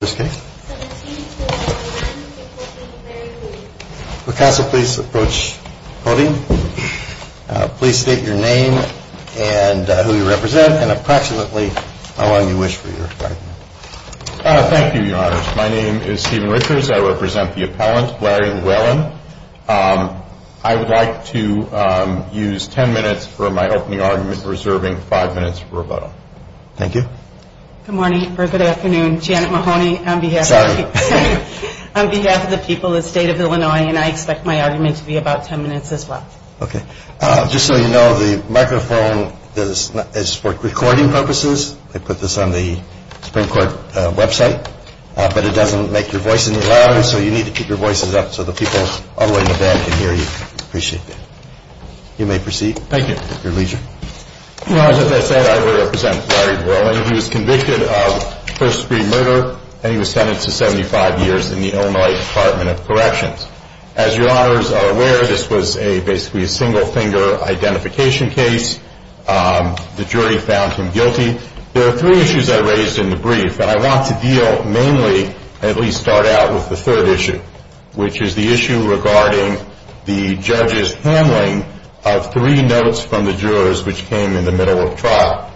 I would like to use ten minutes for my opening argument reserving five minutes for rebuttal. Thank you. Good morning or good afternoon. Janet Mahoney on behalf of the people of the state of Illinois and I expect my argument to be about ten minutes as well. OK. Just so you know, the microphone is for recording purposes. I put this on the Supreme Court website, but it doesn't make your voice any louder. So you need to keep your voices up so the people all the way in the back can hear you. Appreciate it. You may proceed. Thank you. Your leisure. Well, as I said, I represent Larry Luellen. He was convicted of first-degree murder and he was sentenced to 75 years in the Illinois Department of Corrections. As your honors are aware, this was basically a single-finger identification case. The jury found him guilty. There are three issues I raised in the brief, and I want to deal mainly, at least start out with the third issue, which is the issue regarding the judge's handling of three notes from the jurors which came in the middle of trial.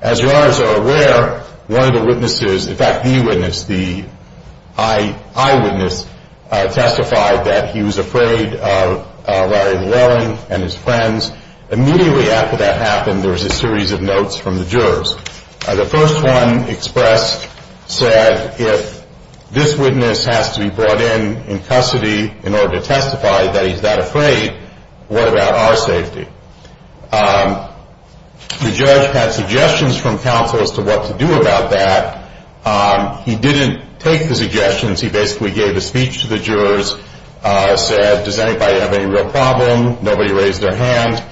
As your honors are aware, one of the witnesses, in fact, the eyewitness testified that he was afraid of Larry Luellen and his friends. Immediately after that happened, there was a series of notes from the jurors. The first one expressed, said, if this witness has to be brought in in custody in order to testify that he's that afraid, what about our safety? The judge had suggestions from counsel as to what to do about that. He didn't take the suggestions. He basically gave a speech to the jurors, said, does anybody have any real problem? Nobody raised their hand,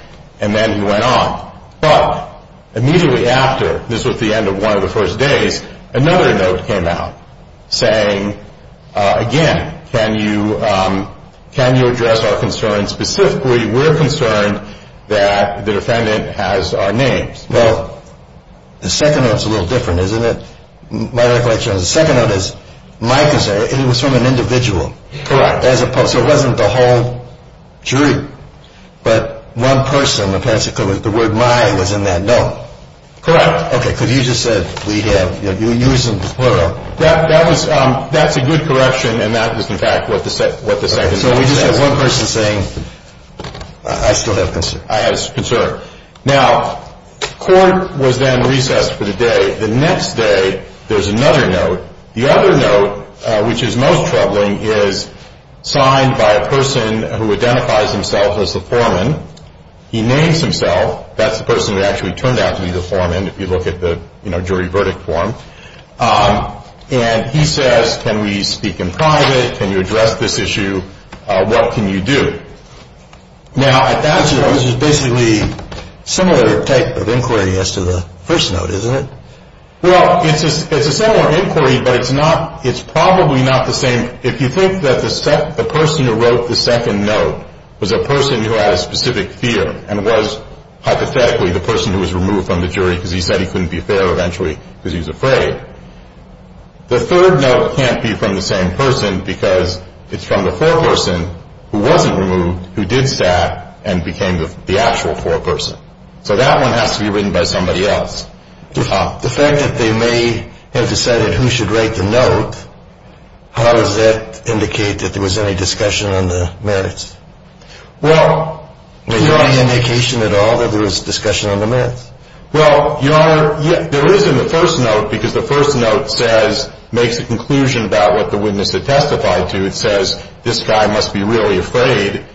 and then he went on. But immediately after, this was the end of one of the first days, another note came out saying, again, can you address our concerns? Specifically, we're concerned that the defendant has our names. Well, the second note's a little different, isn't it? My recollection is the second note is my concern. It was from an individual. Correct. So it wasn't the whole jury, but one person, the word my was in that note. Correct. Okay, because you just said we have, you used the plural. That's a good correction, and that is, in fact, what the second note says. So we just have one person saying, I still have concern. I have concern. Now, court was then recessed for the day. The next day, there's another note. The other note, which is most troubling, is signed by a person who identifies himself as the foreman. He names himself. That's the person who actually turned out to be the foreman, if you look at the jury verdict form. And he says, can we speak in private? Can you address this issue? What can you do? Now, at that point, this is basically a similar type of inquiry as to the first note, isn't it? Well, it's a similar inquiry, but it's probably not the same. If you think that the person who wrote the second note was a person who had a specific fear and was hypothetically the person who was removed from the jury because he said he couldn't be fair eventually because he was afraid, the third note can't be from the same person because it's from the foreperson who wasn't removed, who did stat, and became the actual foreperson. So that one has to be written by somebody else. The fact that they may have decided who should write the note, how does that indicate that there was any discussion on the merits? Well. Was there any indication at all that there was discussion on the merits? Well, Your Honor, there is in the first note because the first note says, makes a conclusion about what the witness had testified to. It says, this guy must be really afraid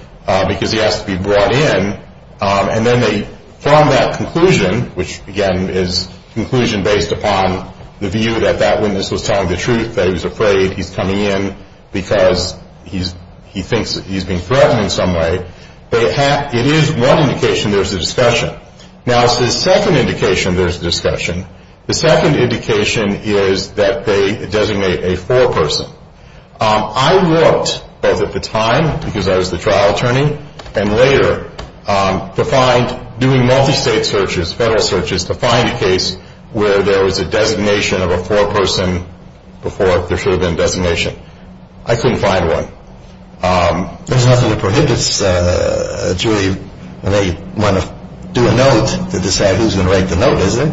because he has to be brought in. And then from that conclusion, which, again, is conclusion based upon the view that that witness was telling the truth, that he was afraid, he's coming in because he thinks he's being threatened in some way. It is one indication there's a discussion. Now, it's the second indication there's a discussion. The second indication is that they designate a foreperson. I worked both at the time because I was the trial attorney and later to find doing multi-state searches, federal searches, to find a case where there was a designation of a foreperson before there should have been a designation. I couldn't find one. There's nothing that prohibits a jury when they want to do a note to decide who's going to write the note, is there?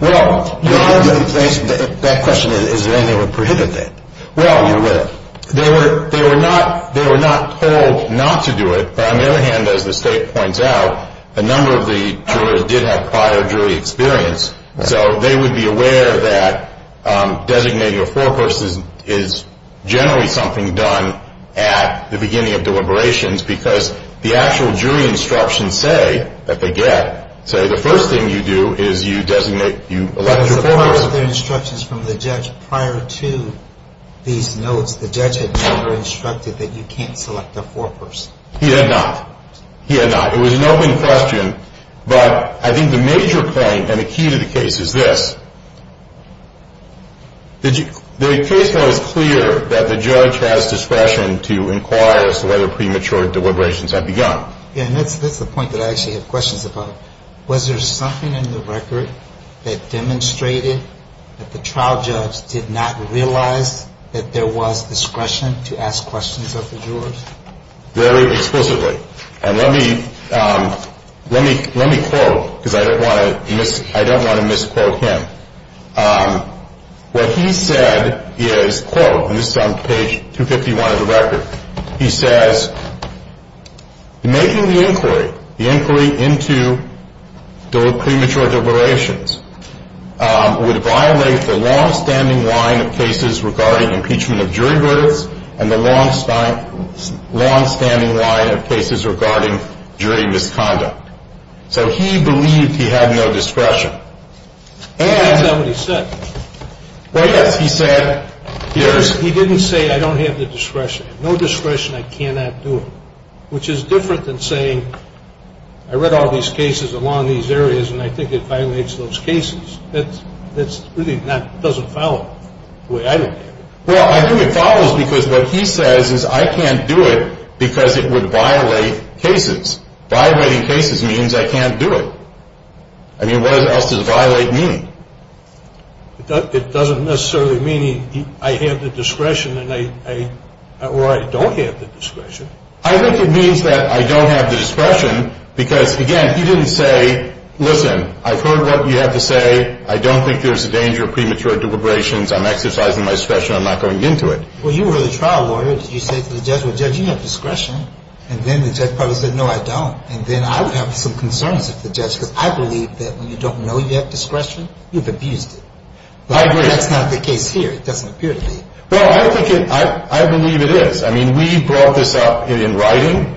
Well, that question, is there anything that would prohibit that? Well, they were not told not to do it. But on the other hand, as the state points out, a number of the jurors did have prior jury experience. So they would be aware that designating a foreperson is generally something done at the beginning of deliberations because the actual jury instructions say that they get, say, the first thing you do is you designate, you elect a foreperson. As a part of their instructions from the judge prior to these notes, the judge had never instructed that you can't select a foreperson. He had not. He had not. It was an open question. But I think the major claim and the key to the case is this. The case was clear that the judge has discretion to inquire as to whether premature deliberations have begun. Yeah, and that's the point that I actually have questions about. Was there something in the record that demonstrated that the trial judge did not realize that there was discretion to ask questions of the jurors? Very explicitly. And let me quote because I don't want to misquote him. What he said is, quote, and this is on page 251 of the record. He says, making the inquiry, the inquiry into the premature deliberations, would violate the longstanding line of cases regarding impeachment of jury verdicts and the longstanding line of cases regarding jury misconduct. So he believed he had no discretion. Is that what he said? Well, yes. He said, here's. He didn't say I don't have the discretion. I have no discretion. I cannot do it, which is different than saying I read all these cases along these areas and I think it violates those cases. That really doesn't follow the way I look at it. Well, I think it follows because what he says is I can't do it because it would violate cases. Violating cases means I can't do it. I mean, what else does violate mean? It doesn't necessarily mean I have the discretion or I don't have the discretion. I think it means that I don't have the discretion because, again, he didn't say, listen, I've heard what you have to say. I don't think there's a danger of premature deliberations. I'm exercising my discretion. I'm not going into it. Well, you were the trial lawyer. Did you say to the judge, well, Judge, you have discretion. And then the judge probably said, no, I don't. And then I would have some concerns with the judge because I believe that when you don't know you have discretion, you've abused it. I agree. But that's not the case here. It doesn't appear to be. Well, I believe it is. I mean, we brought this up in writing.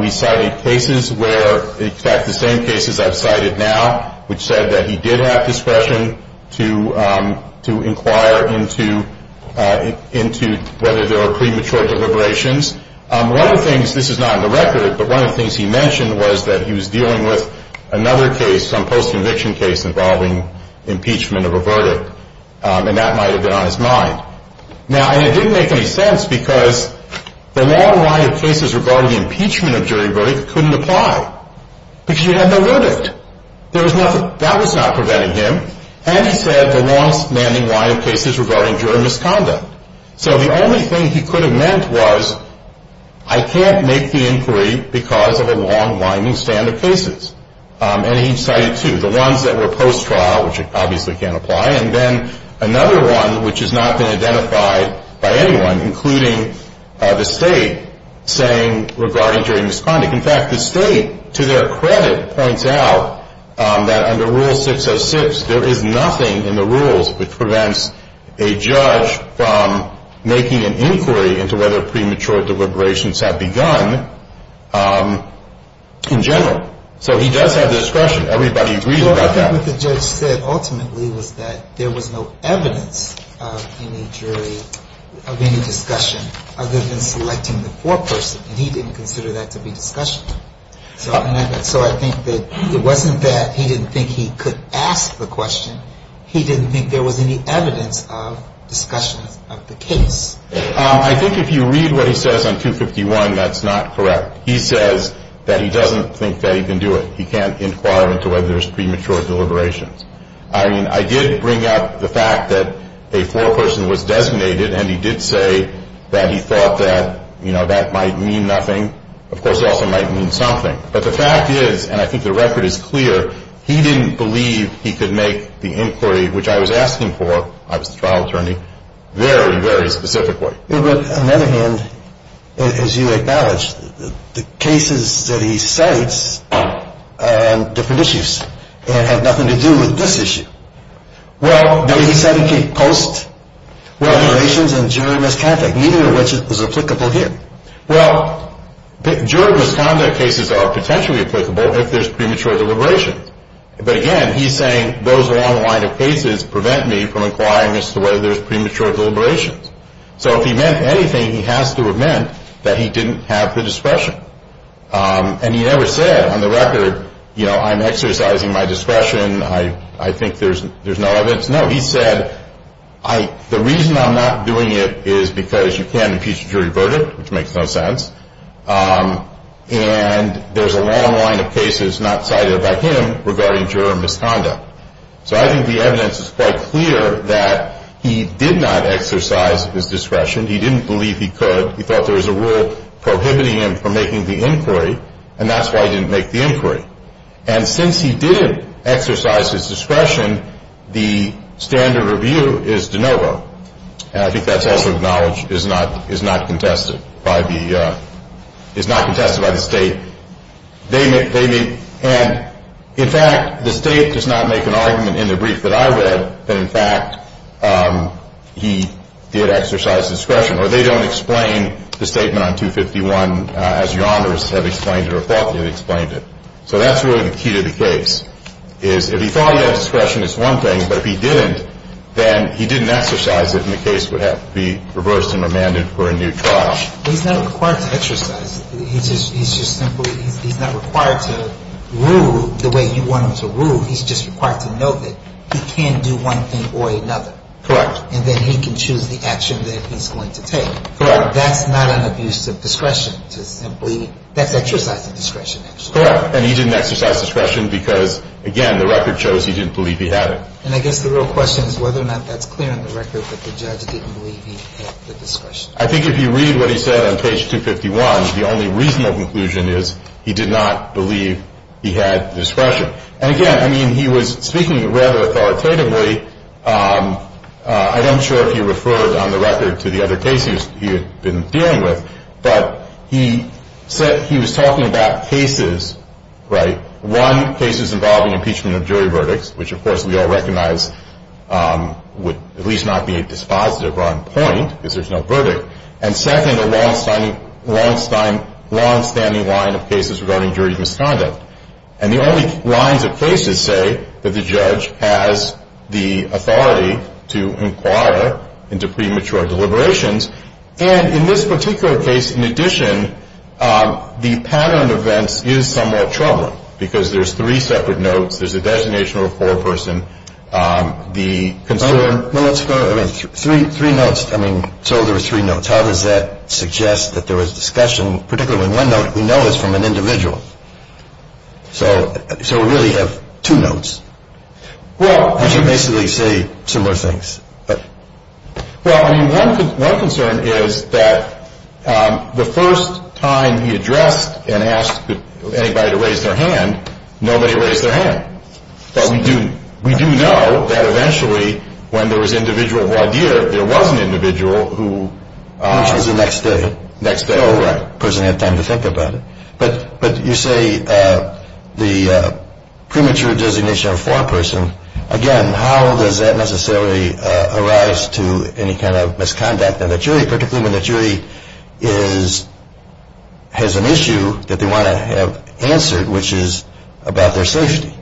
We cited cases where, in fact, the same cases I've cited now, which said that he did have discretion to inquire into whether there were premature deliberations. One of the things, this is not in the record, but one of the things he mentioned was that he was dealing with another case, some post-conviction case involving impeachment of a verdict. And that might have been on his mind. Now, it didn't make any sense because the long line of cases regarding impeachment of jury verdict couldn't apply because you had no verdict. That was not preventing him. And he said the long-standing line of cases regarding jury misconduct. So the only thing he could have meant was I can't make the inquiry because of a long-winding stand of cases. And he cited two, the ones that were post-trial, which obviously can't apply, and then another one which has not been identified by anyone, including the state, saying regarding jury misconduct. In fact, the state, to their credit, points out that under Rule 606, there is nothing in the rules which prevents a judge from making an inquiry into whether premature deliberations have begun in general. So he does have the discretion. Everybody agrees about that. Well, I think what the judge said ultimately was that there was no evidence of any jury, of any discussion, other than selecting the foreperson. And he didn't consider that to be discussion. So I think that it wasn't that he didn't think he could ask the question. He didn't think there was any evidence of discussion of the case. I think if you read what he says on 251, that's not correct. He says that he doesn't think that he can do it. He can't inquire into whether there's premature deliberations. I mean, I did bring up the fact that a foreperson was designated, and he did say that he thought that, you know, that might mean nothing. Of course, it also might mean something. But the fact is, and I think the record is clear, he didn't believe he could make the inquiry, which I was asking for, I was the trial attorney, very, very specifically. Yeah, but on the other hand, as you acknowledged, the cases that he cites are on different issues and have nothing to do with this issue. Well, he said he could post deliberations and jury misconduct, neither of which is applicable here. Well, jury misconduct cases are potentially applicable if there's premature deliberations. But again, he's saying those along the line of cases prevent me from inquiring as to whether there's premature deliberations. So if he meant anything, he has to have meant that he didn't have the discretion. And he never said on the record, you know, I'm exercising my discretion. I think there's no evidence. No, he said the reason I'm not doing it is because you can't impeach a jury verdict, which makes no sense, and there's a long line of cases not cited by him regarding jury misconduct. So I think the evidence is quite clear that he did not exercise his discretion. He didn't believe he could. He thought there was a rule prohibiting him from making the inquiry, and that's why he didn't make the inquiry. And since he didn't exercise his discretion, the standard review is de novo. And I think that's also acknowledged is not contested by the state. And, in fact, the state does not make an argument in the brief that I read that, in fact, he did exercise discretion, or they don't explain the statement on 251 as your honors have explained it or thought they had explained it. So that's really the key to the case is if he thought he had discretion, it's one thing, but if he didn't, then he didn't exercise it, and the case would have to be reversed and remanded for a new trial. But he's not required to exercise it. He's just simply he's not required to rule the way you want him to rule. He's just required to know that he can do one thing or another. Correct. And then he can choose the action that he's going to take. Correct. That's not an abuse of discretion. That's exercising discretion, actually. Correct. And he didn't exercise discretion because, again, the record shows he didn't believe he had it. And I guess the real question is whether or not that's clear in the record that the judge didn't believe he had the discretion. I think if you read what he said on page 251, the only reasonable conclusion is he did not believe he had discretion. And, again, I mean, he was speaking rather authoritatively. I'm not sure if he referred on the record to the other cases he had been dealing with, but he said he was talking about cases, right, one, cases involving impeachment of jury verdicts, which, of course, we all recognize would at least not be dispositive or on point because there's no verdict, and, second, a longstanding line of cases regarding jury misconduct. And the only lines of cases say that the judge has the authority to inquire into premature deliberations. And in this particular case, in addition, the pattern of events is somewhat troubling because there's three separate notes, there's a designation of a four-person, the concern. Three notes. I mean, so there were three notes. How does that suggest that there was discussion, particularly when one note we know is from an individual? So we really have two notes, which basically say similar things. Well, I mean, one concern is that the first time he addressed and asked anybody to raise their hand, nobody raised their hand. But we do know that, eventually, when there was individual voir dire, there was an individual who- Which was the next day. Next day. Oh, right. The person had time to think about it. But you say the premature designation of a four-person. Again, how does that necessarily arise to any kind of misconduct in the jury, particularly when the jury has an issue that they want to have answered, which is about their safety?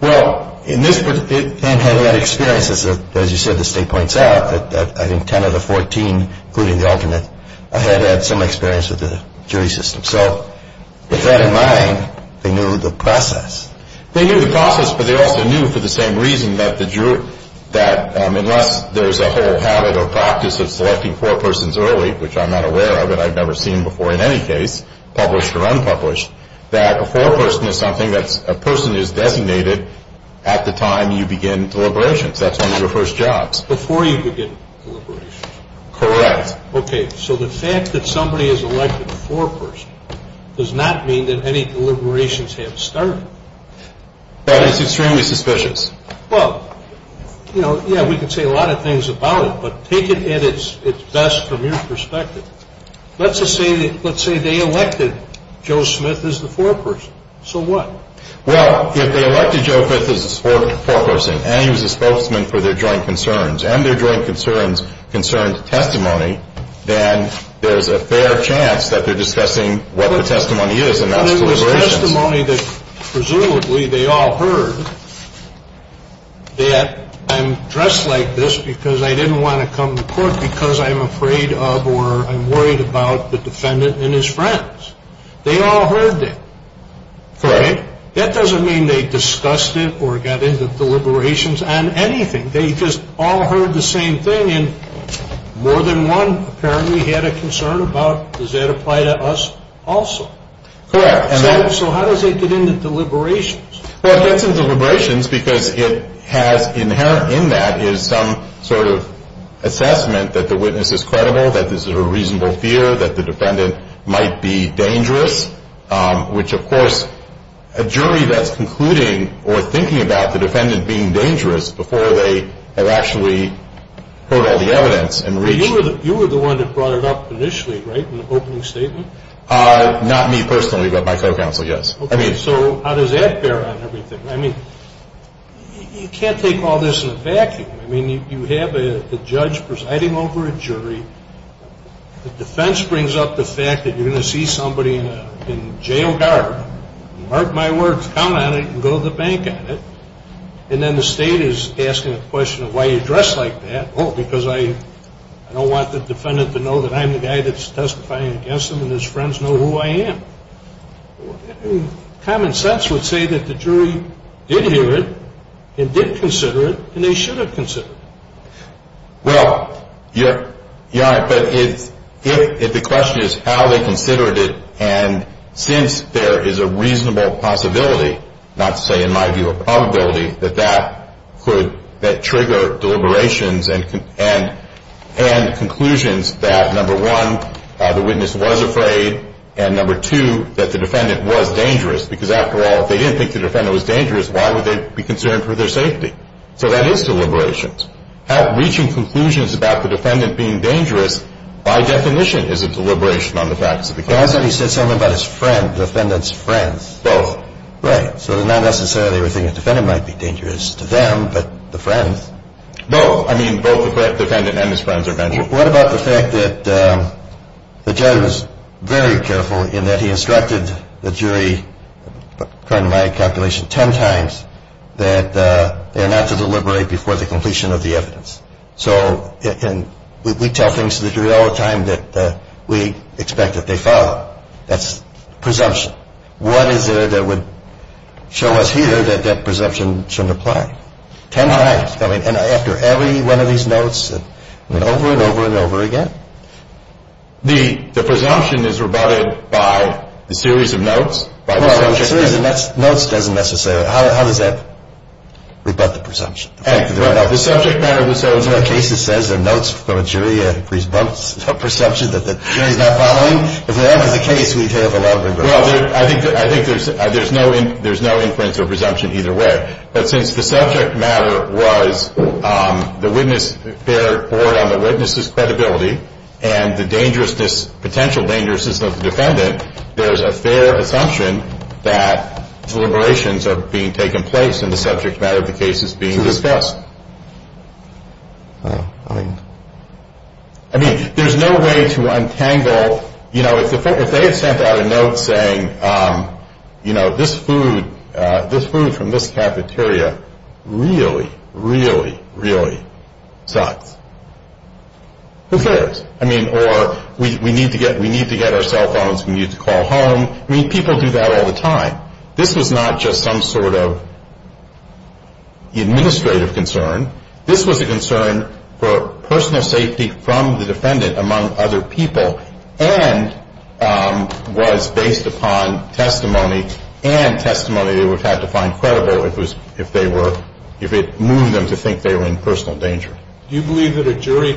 Well, in this particular case, it had had experiences, as you said, the state points out, that I think 10 of the 14, including the alternate, had had some experience with the jury system. So with that in mind, they knew the process. They knew the process, but they also knew for the same reason that the jury- that unless there's a whole habit or practice of selecting four persons early, which I'm not aware of, and I've never seen before in any case, published or unpublished, that a four-person is something that's- a person is designated at the time you begin deliberations. That's one of your first jobs. Before you begin deliberations. Correct. Okay, so the fact that somebody has elected a four-person does not mean that any deliberations have started. That is extremely suspicious. Well, you know, yeah, we can say a lot of things about it, but take it at its best from your perspective. Let's just say that- let's say they elected Joe Smith as the four-person. So what? Well, if they elected Joe Smith as the four-person and he was a spokesman for their joint concerns and their joint concerns concerned testimony, then there's a fair chance that they're discussing what the testimony is and not deliberations. But it was testimony that presumably they all heard, that I'm dressed like this because I didn't want to come to court because I'm afraid of or I'm worried about the defendant and his friends. They all heard that. Correct. That doesn't mean they discussed it or got into deliberations on anything. They just all heard the same thing and more than one apparently had a concern about does that apply to us also. Correct. So how does it get into deliberations? Well, it gets into deliberations because it has inherent in that is some sort of assessment that the witness is credible, that this is a reasonable fear, that the defendant might be dangerous, which, of course, a jury that's concluding or thinking about the defendant being dangerous before they have actually heard all the evidence and reached. You were the one that brought it up initially, right, in the opening statement? Not me personally, but my co-counsel, yes. So how does that bear on everything? I mean, you can't take all this in a vacuum. I mean, you have a judge presiding over a jury. The defense brings up the fact that you're going to see somebody in jail guard, mark my words, count on it and go to the bank on it, and then the state is asking a question of why you're dressed like that. Oh, because I don't want the defendant to know that I'm the guy that's testifying against him and his friends know who I am. Common sense would say that the jury did hear it and did consider it and they should have considered it. Well, you're right, but if the question is how they considered it, and since there is a reasonable possibility, not to say in my view a probability, that that could trigger deliberations and conclusions that, number one, the witness was afraid, and, number two, that the defendant was dangerous because, after all, if they didn't think the defendant was dangerous, why would they be concerned for their safety? So that is deliberations. Reaching conclusions about the defendant being dangerous, by definition, is a deliberation on the facts of the case. He said something about his friend, the defendant's friends. Both. Right. So they're not necessarily thinking the defendant might be dangerous to them, but the friends. Both. I mean, both the defendant and his friends are men. What about the fact that the judge was very careful in that he instructed the jury, according to my calculation, ten times that they are not to deliberate before the completion of the evidence. So we tell things to the jury all the time that we expect that they follow. That's presumption. What is there that would show us here that that presumption shouldn't apply? Ten times. And after every one of these notes, and over and over and over again? The presumption is rebutted by a series of notes. Well, a series of notes doesn't necessarily. How does that rebut the presumption? The subject matter of the case says there are notes from a jury, a presumption that the jury is not following. If that was the case, we'd have a lot of rebuttals. Well, I think there's no inference or presumption either way. But since the subject matter was the witness, their board on the witness's credibility, and the dangerousness, potential dangerousness of the defendant, there's a fair assumption that deliberations are being taken place in the subject matter of the cases being discussed. I mean, there's no way to untangle, you know, if they had sent out a note saying, you know, this food from this cafeteria really, really, really sucks. Who cares? I mean, or we need to get our cell phones, we need to call home. I mean, people do that all the time. This was not just some sort of administrative concern. This was a concern for personal safety from the defendant, among other people, and was based upon testimony and testimony they would have to find credible if they were, if it moved them to think they were in personal danger. Do you believe that a jury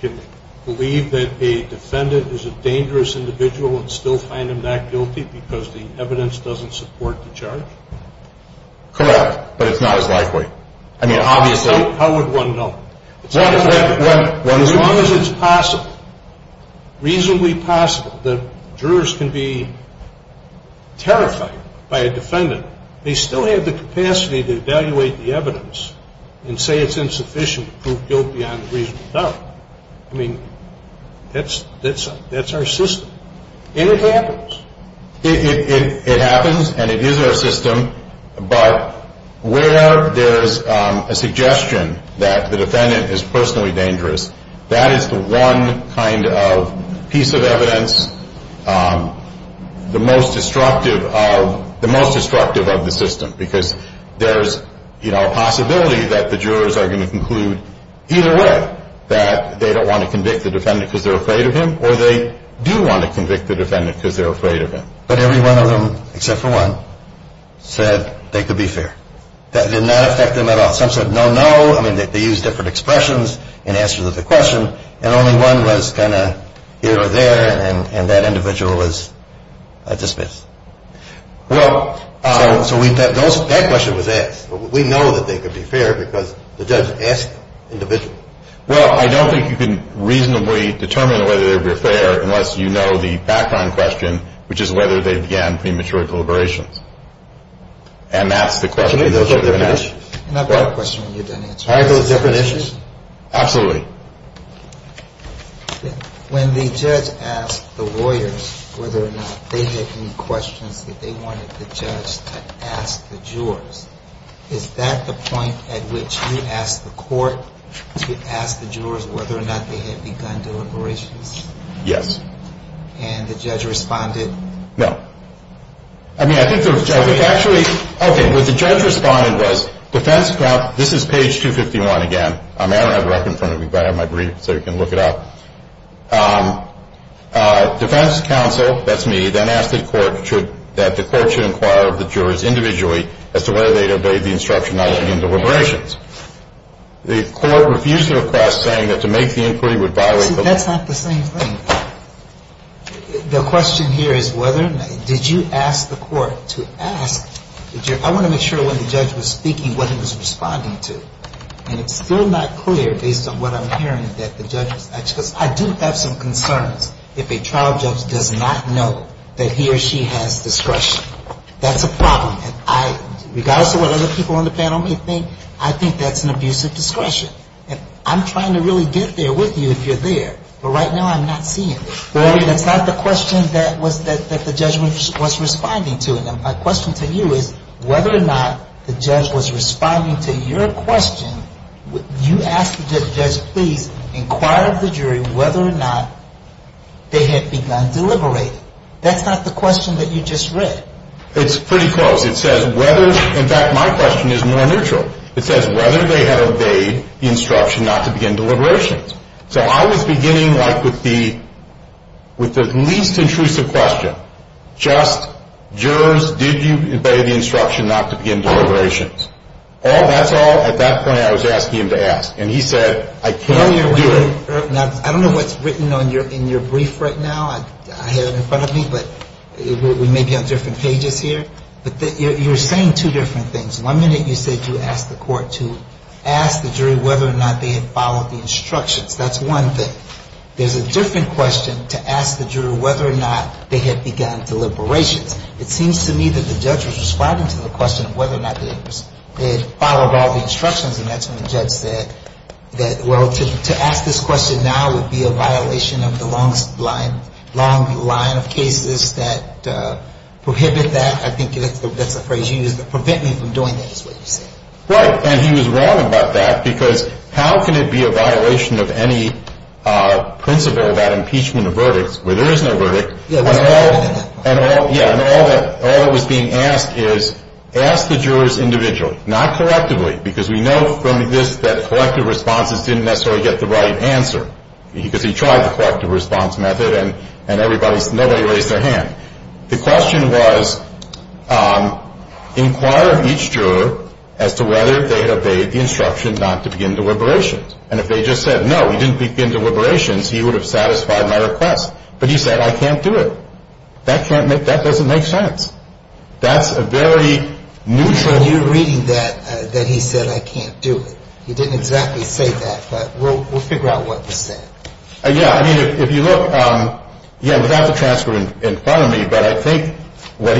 can believe that a defendant is a dangerous individual and still find him that guilty because the evidence doesn't support the charge? Correct, but it's not as likely. I mean, obviously. How would one know? As long as it's possible, reasonably possible, that jurors can be terrified by a defendant, they still have the capacity to evaluate the evidence and say it's insufficient to prove guilt beyond reasonable doubt. I mean, that's our system, and it happens. It happens, and it is our system, but where there's a suggestion that the defendant is personally dangerous, that is the one kind of piece of evidence, the most destructive of the system, because there's a possibility that the jurors are going to conclude either way, that they don't want to convict the defendant because they're afraid of him, or they do want to convict the defendant because they're afraid of him. But every one of them, except for one, said they could be fair. That did not affect them at all. Some said no, no. I mean, they used different expressions in answer to the question, and only one was kind of here or there, and that individual was dismissed. Well, so that question was asked. We know that they could be fair because the judge asked the individual. Well, I don't think you can reasonably determine whether they were fair unless you know the background question, which is whether they began premature deliberations, and that's the question. And I've got a question you didn't answer. Are those different issues? Absolutely. When the judge asked the lawyers whether or not they had any questions that they wanted the judge to ask the jurors, is that the point at which you asked the court to ask the jurors whether or not they had begun deliberations? Yes. And the judge responded? No. I mean, I think the judge actually, okay, what the judge responded was defense counsel, this is page 251 again. I don't have it right in front of me, but I have my brief so you can look it up. Defense counsel, that's me, then asked the court that the court should inquire of the jurors individually as to whether they had obeyed the instruction not to begin deliberations. The court refused the request, saying that to make the inquiry would violate the law. See, that's not the same thing. The question here is whether or not did you ask the court to ask the jurors? I want to make sure when the judge was speaking what he was responding to, and it's still not clear based on what I'm hearing that the judge was asking, because I do have some concerns if a trial judge does not know that he or she has discretion. That's a problem. And I, regardless of what other people on the panel may think, I think that's an abuse of discretion. And I'm trying to really get there with you if you're there. But right now I'm not seeing it. That's not the question that the judge was responding to. My question to you is whether or not the judge was responding to your question, you asked the judge please inquire of the jury whether or not they had begun deliberating. That's not the question that you just read. It's pretty close. It says whether. In fact, my question is more neutral. It says whether they had obeyed the instruction not to begin deliberations. So I was beginning, like, with the least intrusive question, just jurors, did you obey the instruction not to begin deliberations? That's all at that point I was asking him to ask. And he said I cannot do it. Now, I don't know what's written in your brief right now. I have it in front of me. But we may be on different pages here. But you're saying two different things. One minute you said you asked the court to ask the jury whether or not they had followed the instructions. That's one thing. There's a different question to ask the jury whether or not they had begun deliberations. It seems to me that the judge was responding to the question of whether or not they had followed all the instructions. And that's when the judge said that, well, to ask this question now would be a violation of the long line of cases that prohibit that. I think that's a phrase you used. Prevent me from doing that is what you said. Right. And he was wrong about that because how can it be a violation of any principle about impeachment of verdicts where there is no verdict? Yeah, it was better than that. Yeah. And all that was being asked is ask the jurors individually, not correctively, because we know from this that collective responses didn't necessarily get the right answer, because he tried the collective response method and nobody raised their hand. The question was inquire of each juror as to whether they had obeyed the instruction not to begin deliberations. And if they just said, no, we didn't begin deliberations, he would have satisfied my request. But he said, I can't do it. That doesn't make sense. That's a very neutral. John, you're reading that, that he said, I can't do it. He didn't exactly say that, but we'll figure out what he said. Yeah, I mean, if you look, yeah, without the transcript in front of me, but I think what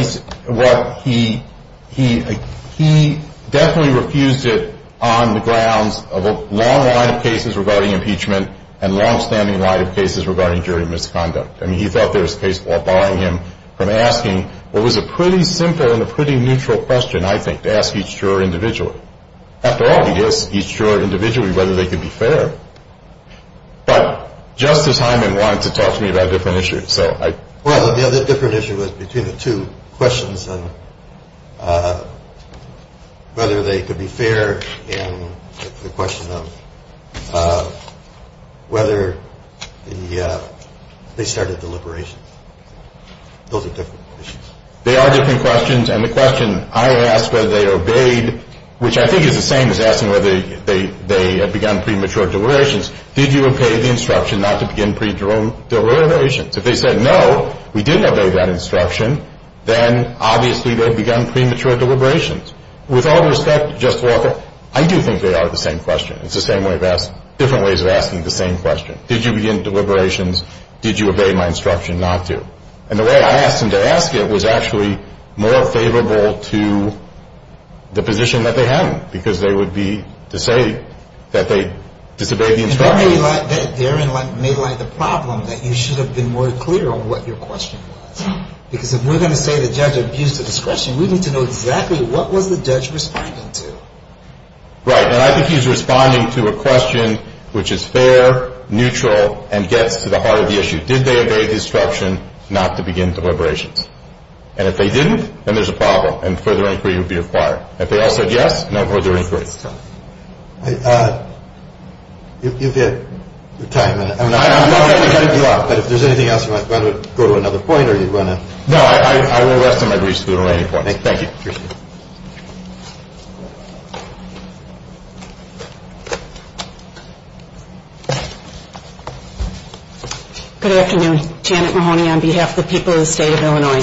he definitely refused it on the grounds of a long line of cases regarding impeachment and longstanding line of cases regarding jury misconduct. I mean, he thought there was a case while barring him from asking what was a pretty simple and a pretty neutral question, I think, to ask each juror individually. After all, he asked each juror individually whether they could be fair. But Justice Hyman wanted to talk to me about a different issue, so I. Well, the other different issue was between the two questions on whether they could be fair and the question of whether they started deliberations. Those are different issues. They are different questions, and the question I asked whether they obeyed, which I think is the same as asking whether they had begun premature deliberations, did you obey the instruction not to begin premature deliberations? If they said no, we didn't obey that instruction, then obviously they had begun premature deliberations. With all due respect, Justice Walker, I do think they are the same question. It's the same way of asking, different ways of asking the same question. Did you begin deliberations? Did you obey my instruction not to? And the way I asked him to ask it was actually more favorable to the position that they had, because they would be to say that they disobeyed the instruction. And that may light the problem that you should have been more clear on what your question was, because if we're going to say the judge abused the discretion, we need to know exactly what was the judge responding to. Right. And I think he's responding to a question which is fair, neutral, and gets to the heart of the issue. Did they obey the instruction not to begin deliberations? And if they didn't, then there's a problem, and further inquiry would be required. If they all said yes, no further inquiry. You've had your time, and I'm not going to cut you off, but if there's anything else you might want to go to another point, or you want to? No, I will rest on my greaves to the remaining points. Thank you. Appreciate it. Good afternoon. Janet Mahoney on behalf of the people of the state of Illinois.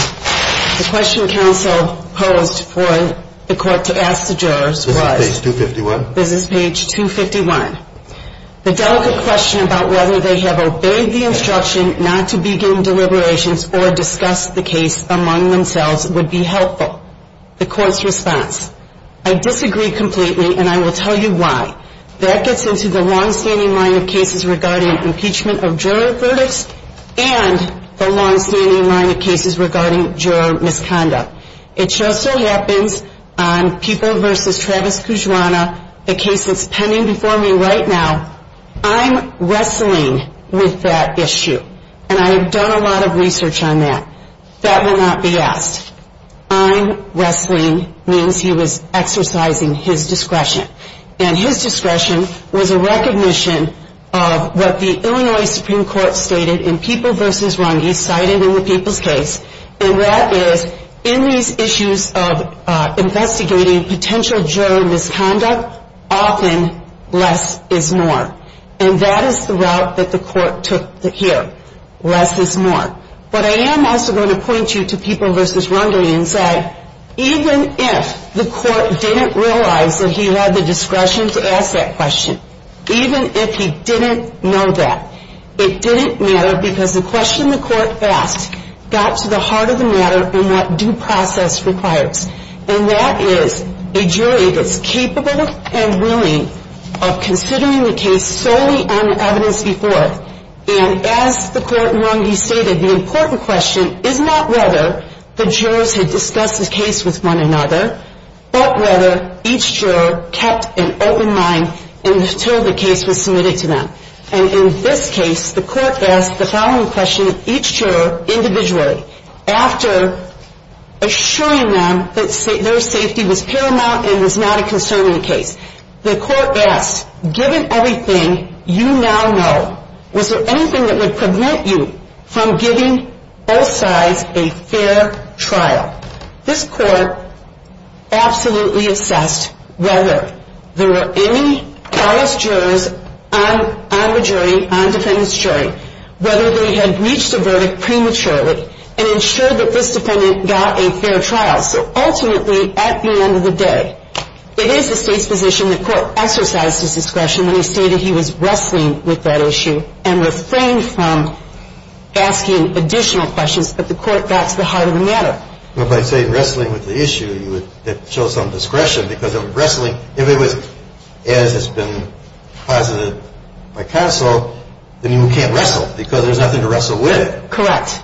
The question counsel posed for the court to ask the jurors was? Business page 251. Business page 251. The delicate question about whether they have obeyed the instruction not to begin deliberations or discuss the case among themselves would be helpful. The court's response. I disagree completely, and I will tell you why. That gets into the longstanding line of cases regarding impeachment of juror verdicts and the longstanding line of cases regarding juror misconduct. It just so happens on Pupil v. Travis Kujwana, the case that's pending before me right now, I'm wrestling with that issue. And I have done a lot of research on that. That will not be asked. I'm wrestling means he was exercising his discretion. And his discretion was a recognition of what the Illinois Supreme Court stated in Pupil v. Runge, cited in the Pupil's case, and that is in these issues of investigating potential juror misconduct, often less is more. And that is the route that the court took here. Less is more. But I am also going to point you to Pupil v. Runge and say, even if the court didn't realize that he had the discretion to ask that question, even if he didn't know that, it didn't matter because the question the court asked got to the heart of the matter and what due process requires. And that is a jury that's capable and willing of considering the case solely on evidence before. And as the court in Runge stated, the important question is not whether the jurors had discussed the case with one another, but whether each juror kept an open mind until the case was submitted to them. And in this case, the court asked the following question of each juror individually. After assuring them that their safety was paramount and was not a concern in the case, the court asked, given everything you now know, was there anything that would prevent you from giving both sides a fair trial? This court absolutely assessed whether there were any false jurors on the jury, on defendant's jury, whether they had reached a verdict prematurely and ensured that this defendant got a fair trial. So ultimately, at the end of the day, it is the State's position the court exercised his discretion when he stated he was wrestling with that issue and refrained from asking additional questions, but the court got to the heart of the matter. Well, by saying wrestling with the issue, it shows some discretion because of wrestling. If it was, as has been posited by counsel, then you can't wrestle because there's nothing to wrestle with. Correct.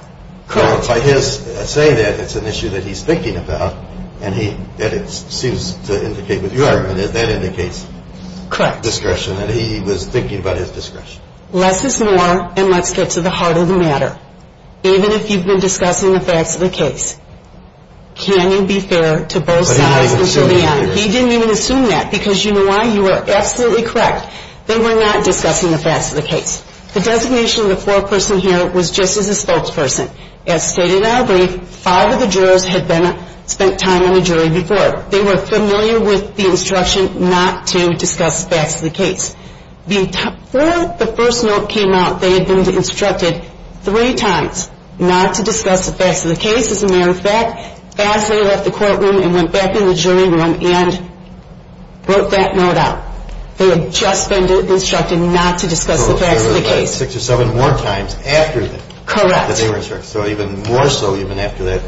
Correct. By his saying that, it's an issue that he's thinking about, and it seems to indicate with your argument that that indicates discretion, that he was thinking about his discretion. Less is more, and let's get to the heart of the matter. David, if you've been discussing the facts of the case, can you be fair to both sides until the end? He didn't even assume that because you know why? You are absolutely correct. They were not discussing the facts of the case. The designation of the foreperson here was just as a spokesperson. As stated in our brief, five of the jurors had spent time on the jury before. They were familiar with the instruction not to discuss facts of the case. Before the first note came out, they had been instructed three times not to discuss the facts of the case. As a matter of fact, as they left the courtroom and went back in the jury room and wrote that note out, they had just been instructed not to discuss the facts of the case. So six or seven more times after that. Correct. That they were instructed. So even more so even after that.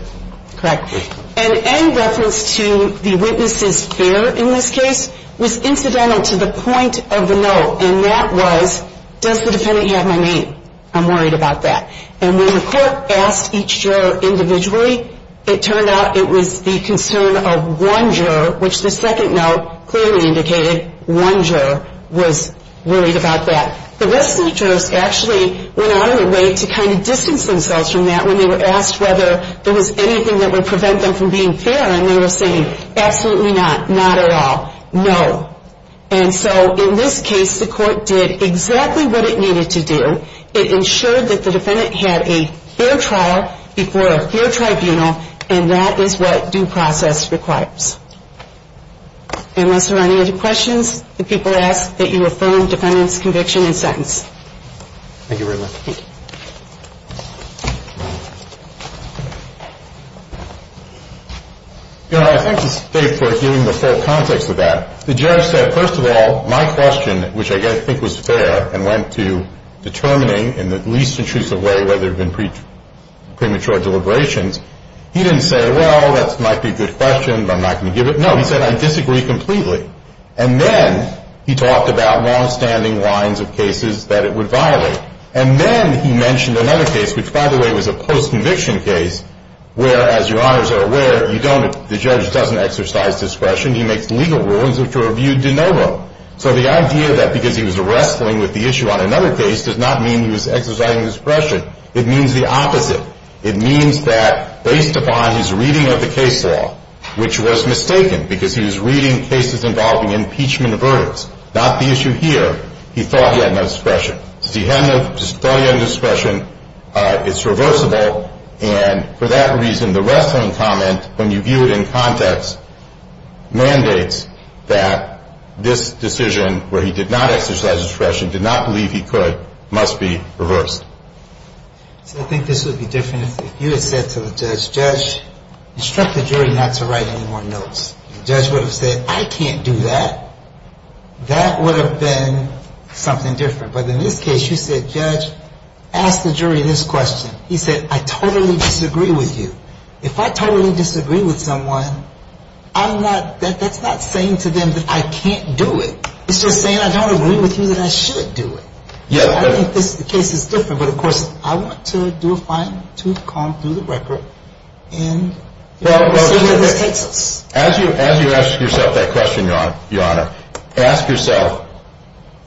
Correct. And any reference to the witness's fear in this case was incidental to the point of the note. And that was, does the defendant have my name? I'm worried about that. And when the court asked each juror individually, it turned out it was the concern of one juror, which the second note clearly indicated one juror was worried about that. The rest of the jurors actually went out of their way to kind of distance themselves from that when they were asked whether there was anything that would prevent them from being fair, and they were saying, absolutely not, not at all, no. And so in this case, the court did exactly what it needed to do. It ensured that the defendant had a fair trial before a fair tribunal, and that is what due process requires. Unless there are any other questions, the people ask that you affirm defendant's conviction and sentence. Thank you very much. Thank you. Your Honor, I'd like to stay for giving the full context of that. The judge said, first of all, my question, which I think was fair, and went to determining in the least intrusive way whether there had been premature deliberations, he didn't say, well, that might be a good question, but I'm not going to give it. No, he said, I disagree completely. And then he talked about longstanding lines of cases that it would violate. And then he mentioned another case, which, by the way, was a post-conviction case, where, as Your Honors are aware, the judge doesn't exercise discretion. He makes legal rulings which were viewed de novo. So the idea that because he was wrestling with the issue on another case does not mean he was exercising discretion. It means the opposite. It means that based upon his reading of the case law, which was mistaken because he was reading cases involving impeachment of verdicts, not the issue here, he thought he had no discretion. He thought he had no discretion. It's reversible. And for that reason, the wrestling comment, when you view it in context, mandates that this decision where he did not exercise discretion, did not believe he could, must be reversed. So I think this would be different if you had said to the judge, instruct the jury not to write any more notes. The judge would have said, I can't do that. That would have been something different. But in this case, you said, judge, ask the jury this question. He said, I totally disagree with you. If I totally disagree with someone, I'm not — that's not saying to them that I can't do it. It's just saying I don't agree with you that I should do it. I think this case is different, but of course, I want to do a fine tooth comb through the record and see where this takes us. As you ask yourself that question, Your Honor, ask yourself,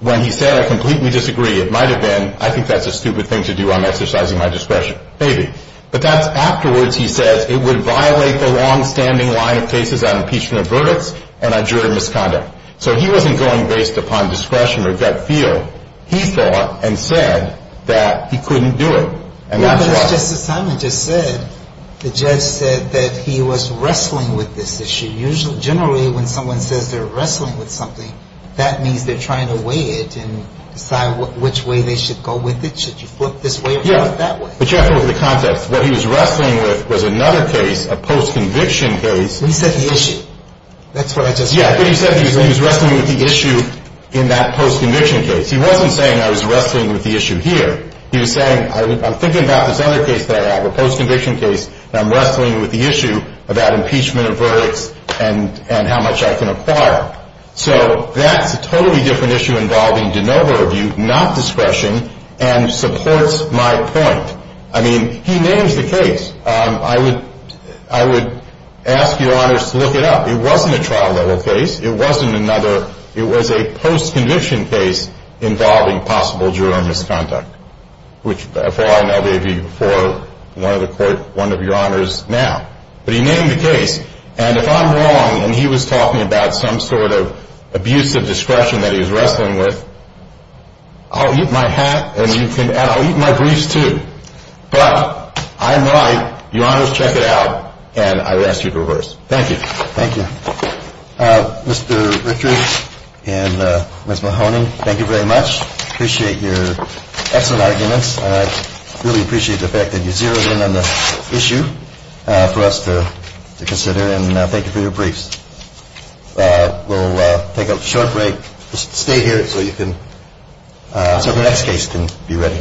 when he said, I completely disagree, it might have been, I think that's a stupid thing to do, I'm exercising my discretion. Maybe. But that's afterwards he says, it would violate the longstanding line of cases on impeachment of verdicts and on jury misconduct. So he wasn't going based upon discretion or gut feel. He thought and said that he couldn't do it. And that's why. But as Justice Simon just said, the judge said that he was wrestling with this issue. Generally, when someone says they're wrestling with something, that means they're trying to weigh it and decide which way they should go with it. Should you flip this way or flip that way? Yeah. But you have to look at the context. What he was wrestling with was another case, a post-conviction case. He said the issue. That's what I just said. Yeah, but he said he was wrestling with the issue in that post-conviction case. He wasn't saying I was wrestling with the issue here. He was saying I'm thinking about this other case that I have, a post-conviction case, and I'm wrestling with the issue about impeachment of verdicts and how much I can acquire. So that's a totally different issue involving de novo review, not discretion, and supports my point. I mean, he names the case. I would ask your honors to look it up. It wasn't a trial-level case. It wasn't another. It was a post-conviction case involving possible juror misconduct, which, as far as I know, they view for one of the court, one of your honors now. But he named the case. And if I'm wrong and he was talking about some sort of abuse of discretion that he was wrestling with, I'll eat my hat and I'll eat my griefs too. But I'm right. Your honors, check it out, and I would ask you to reverse. Thank you. Thank you. Mr. Richard and Ms. Mahoney, thank you very much. Appreciate your excellent arguments, and I really appreciate the fact that you zeroed in on the issue for us to consider. And thank you for your briefs. We'll take a short break. Stay here so you can – so the next case can be ready.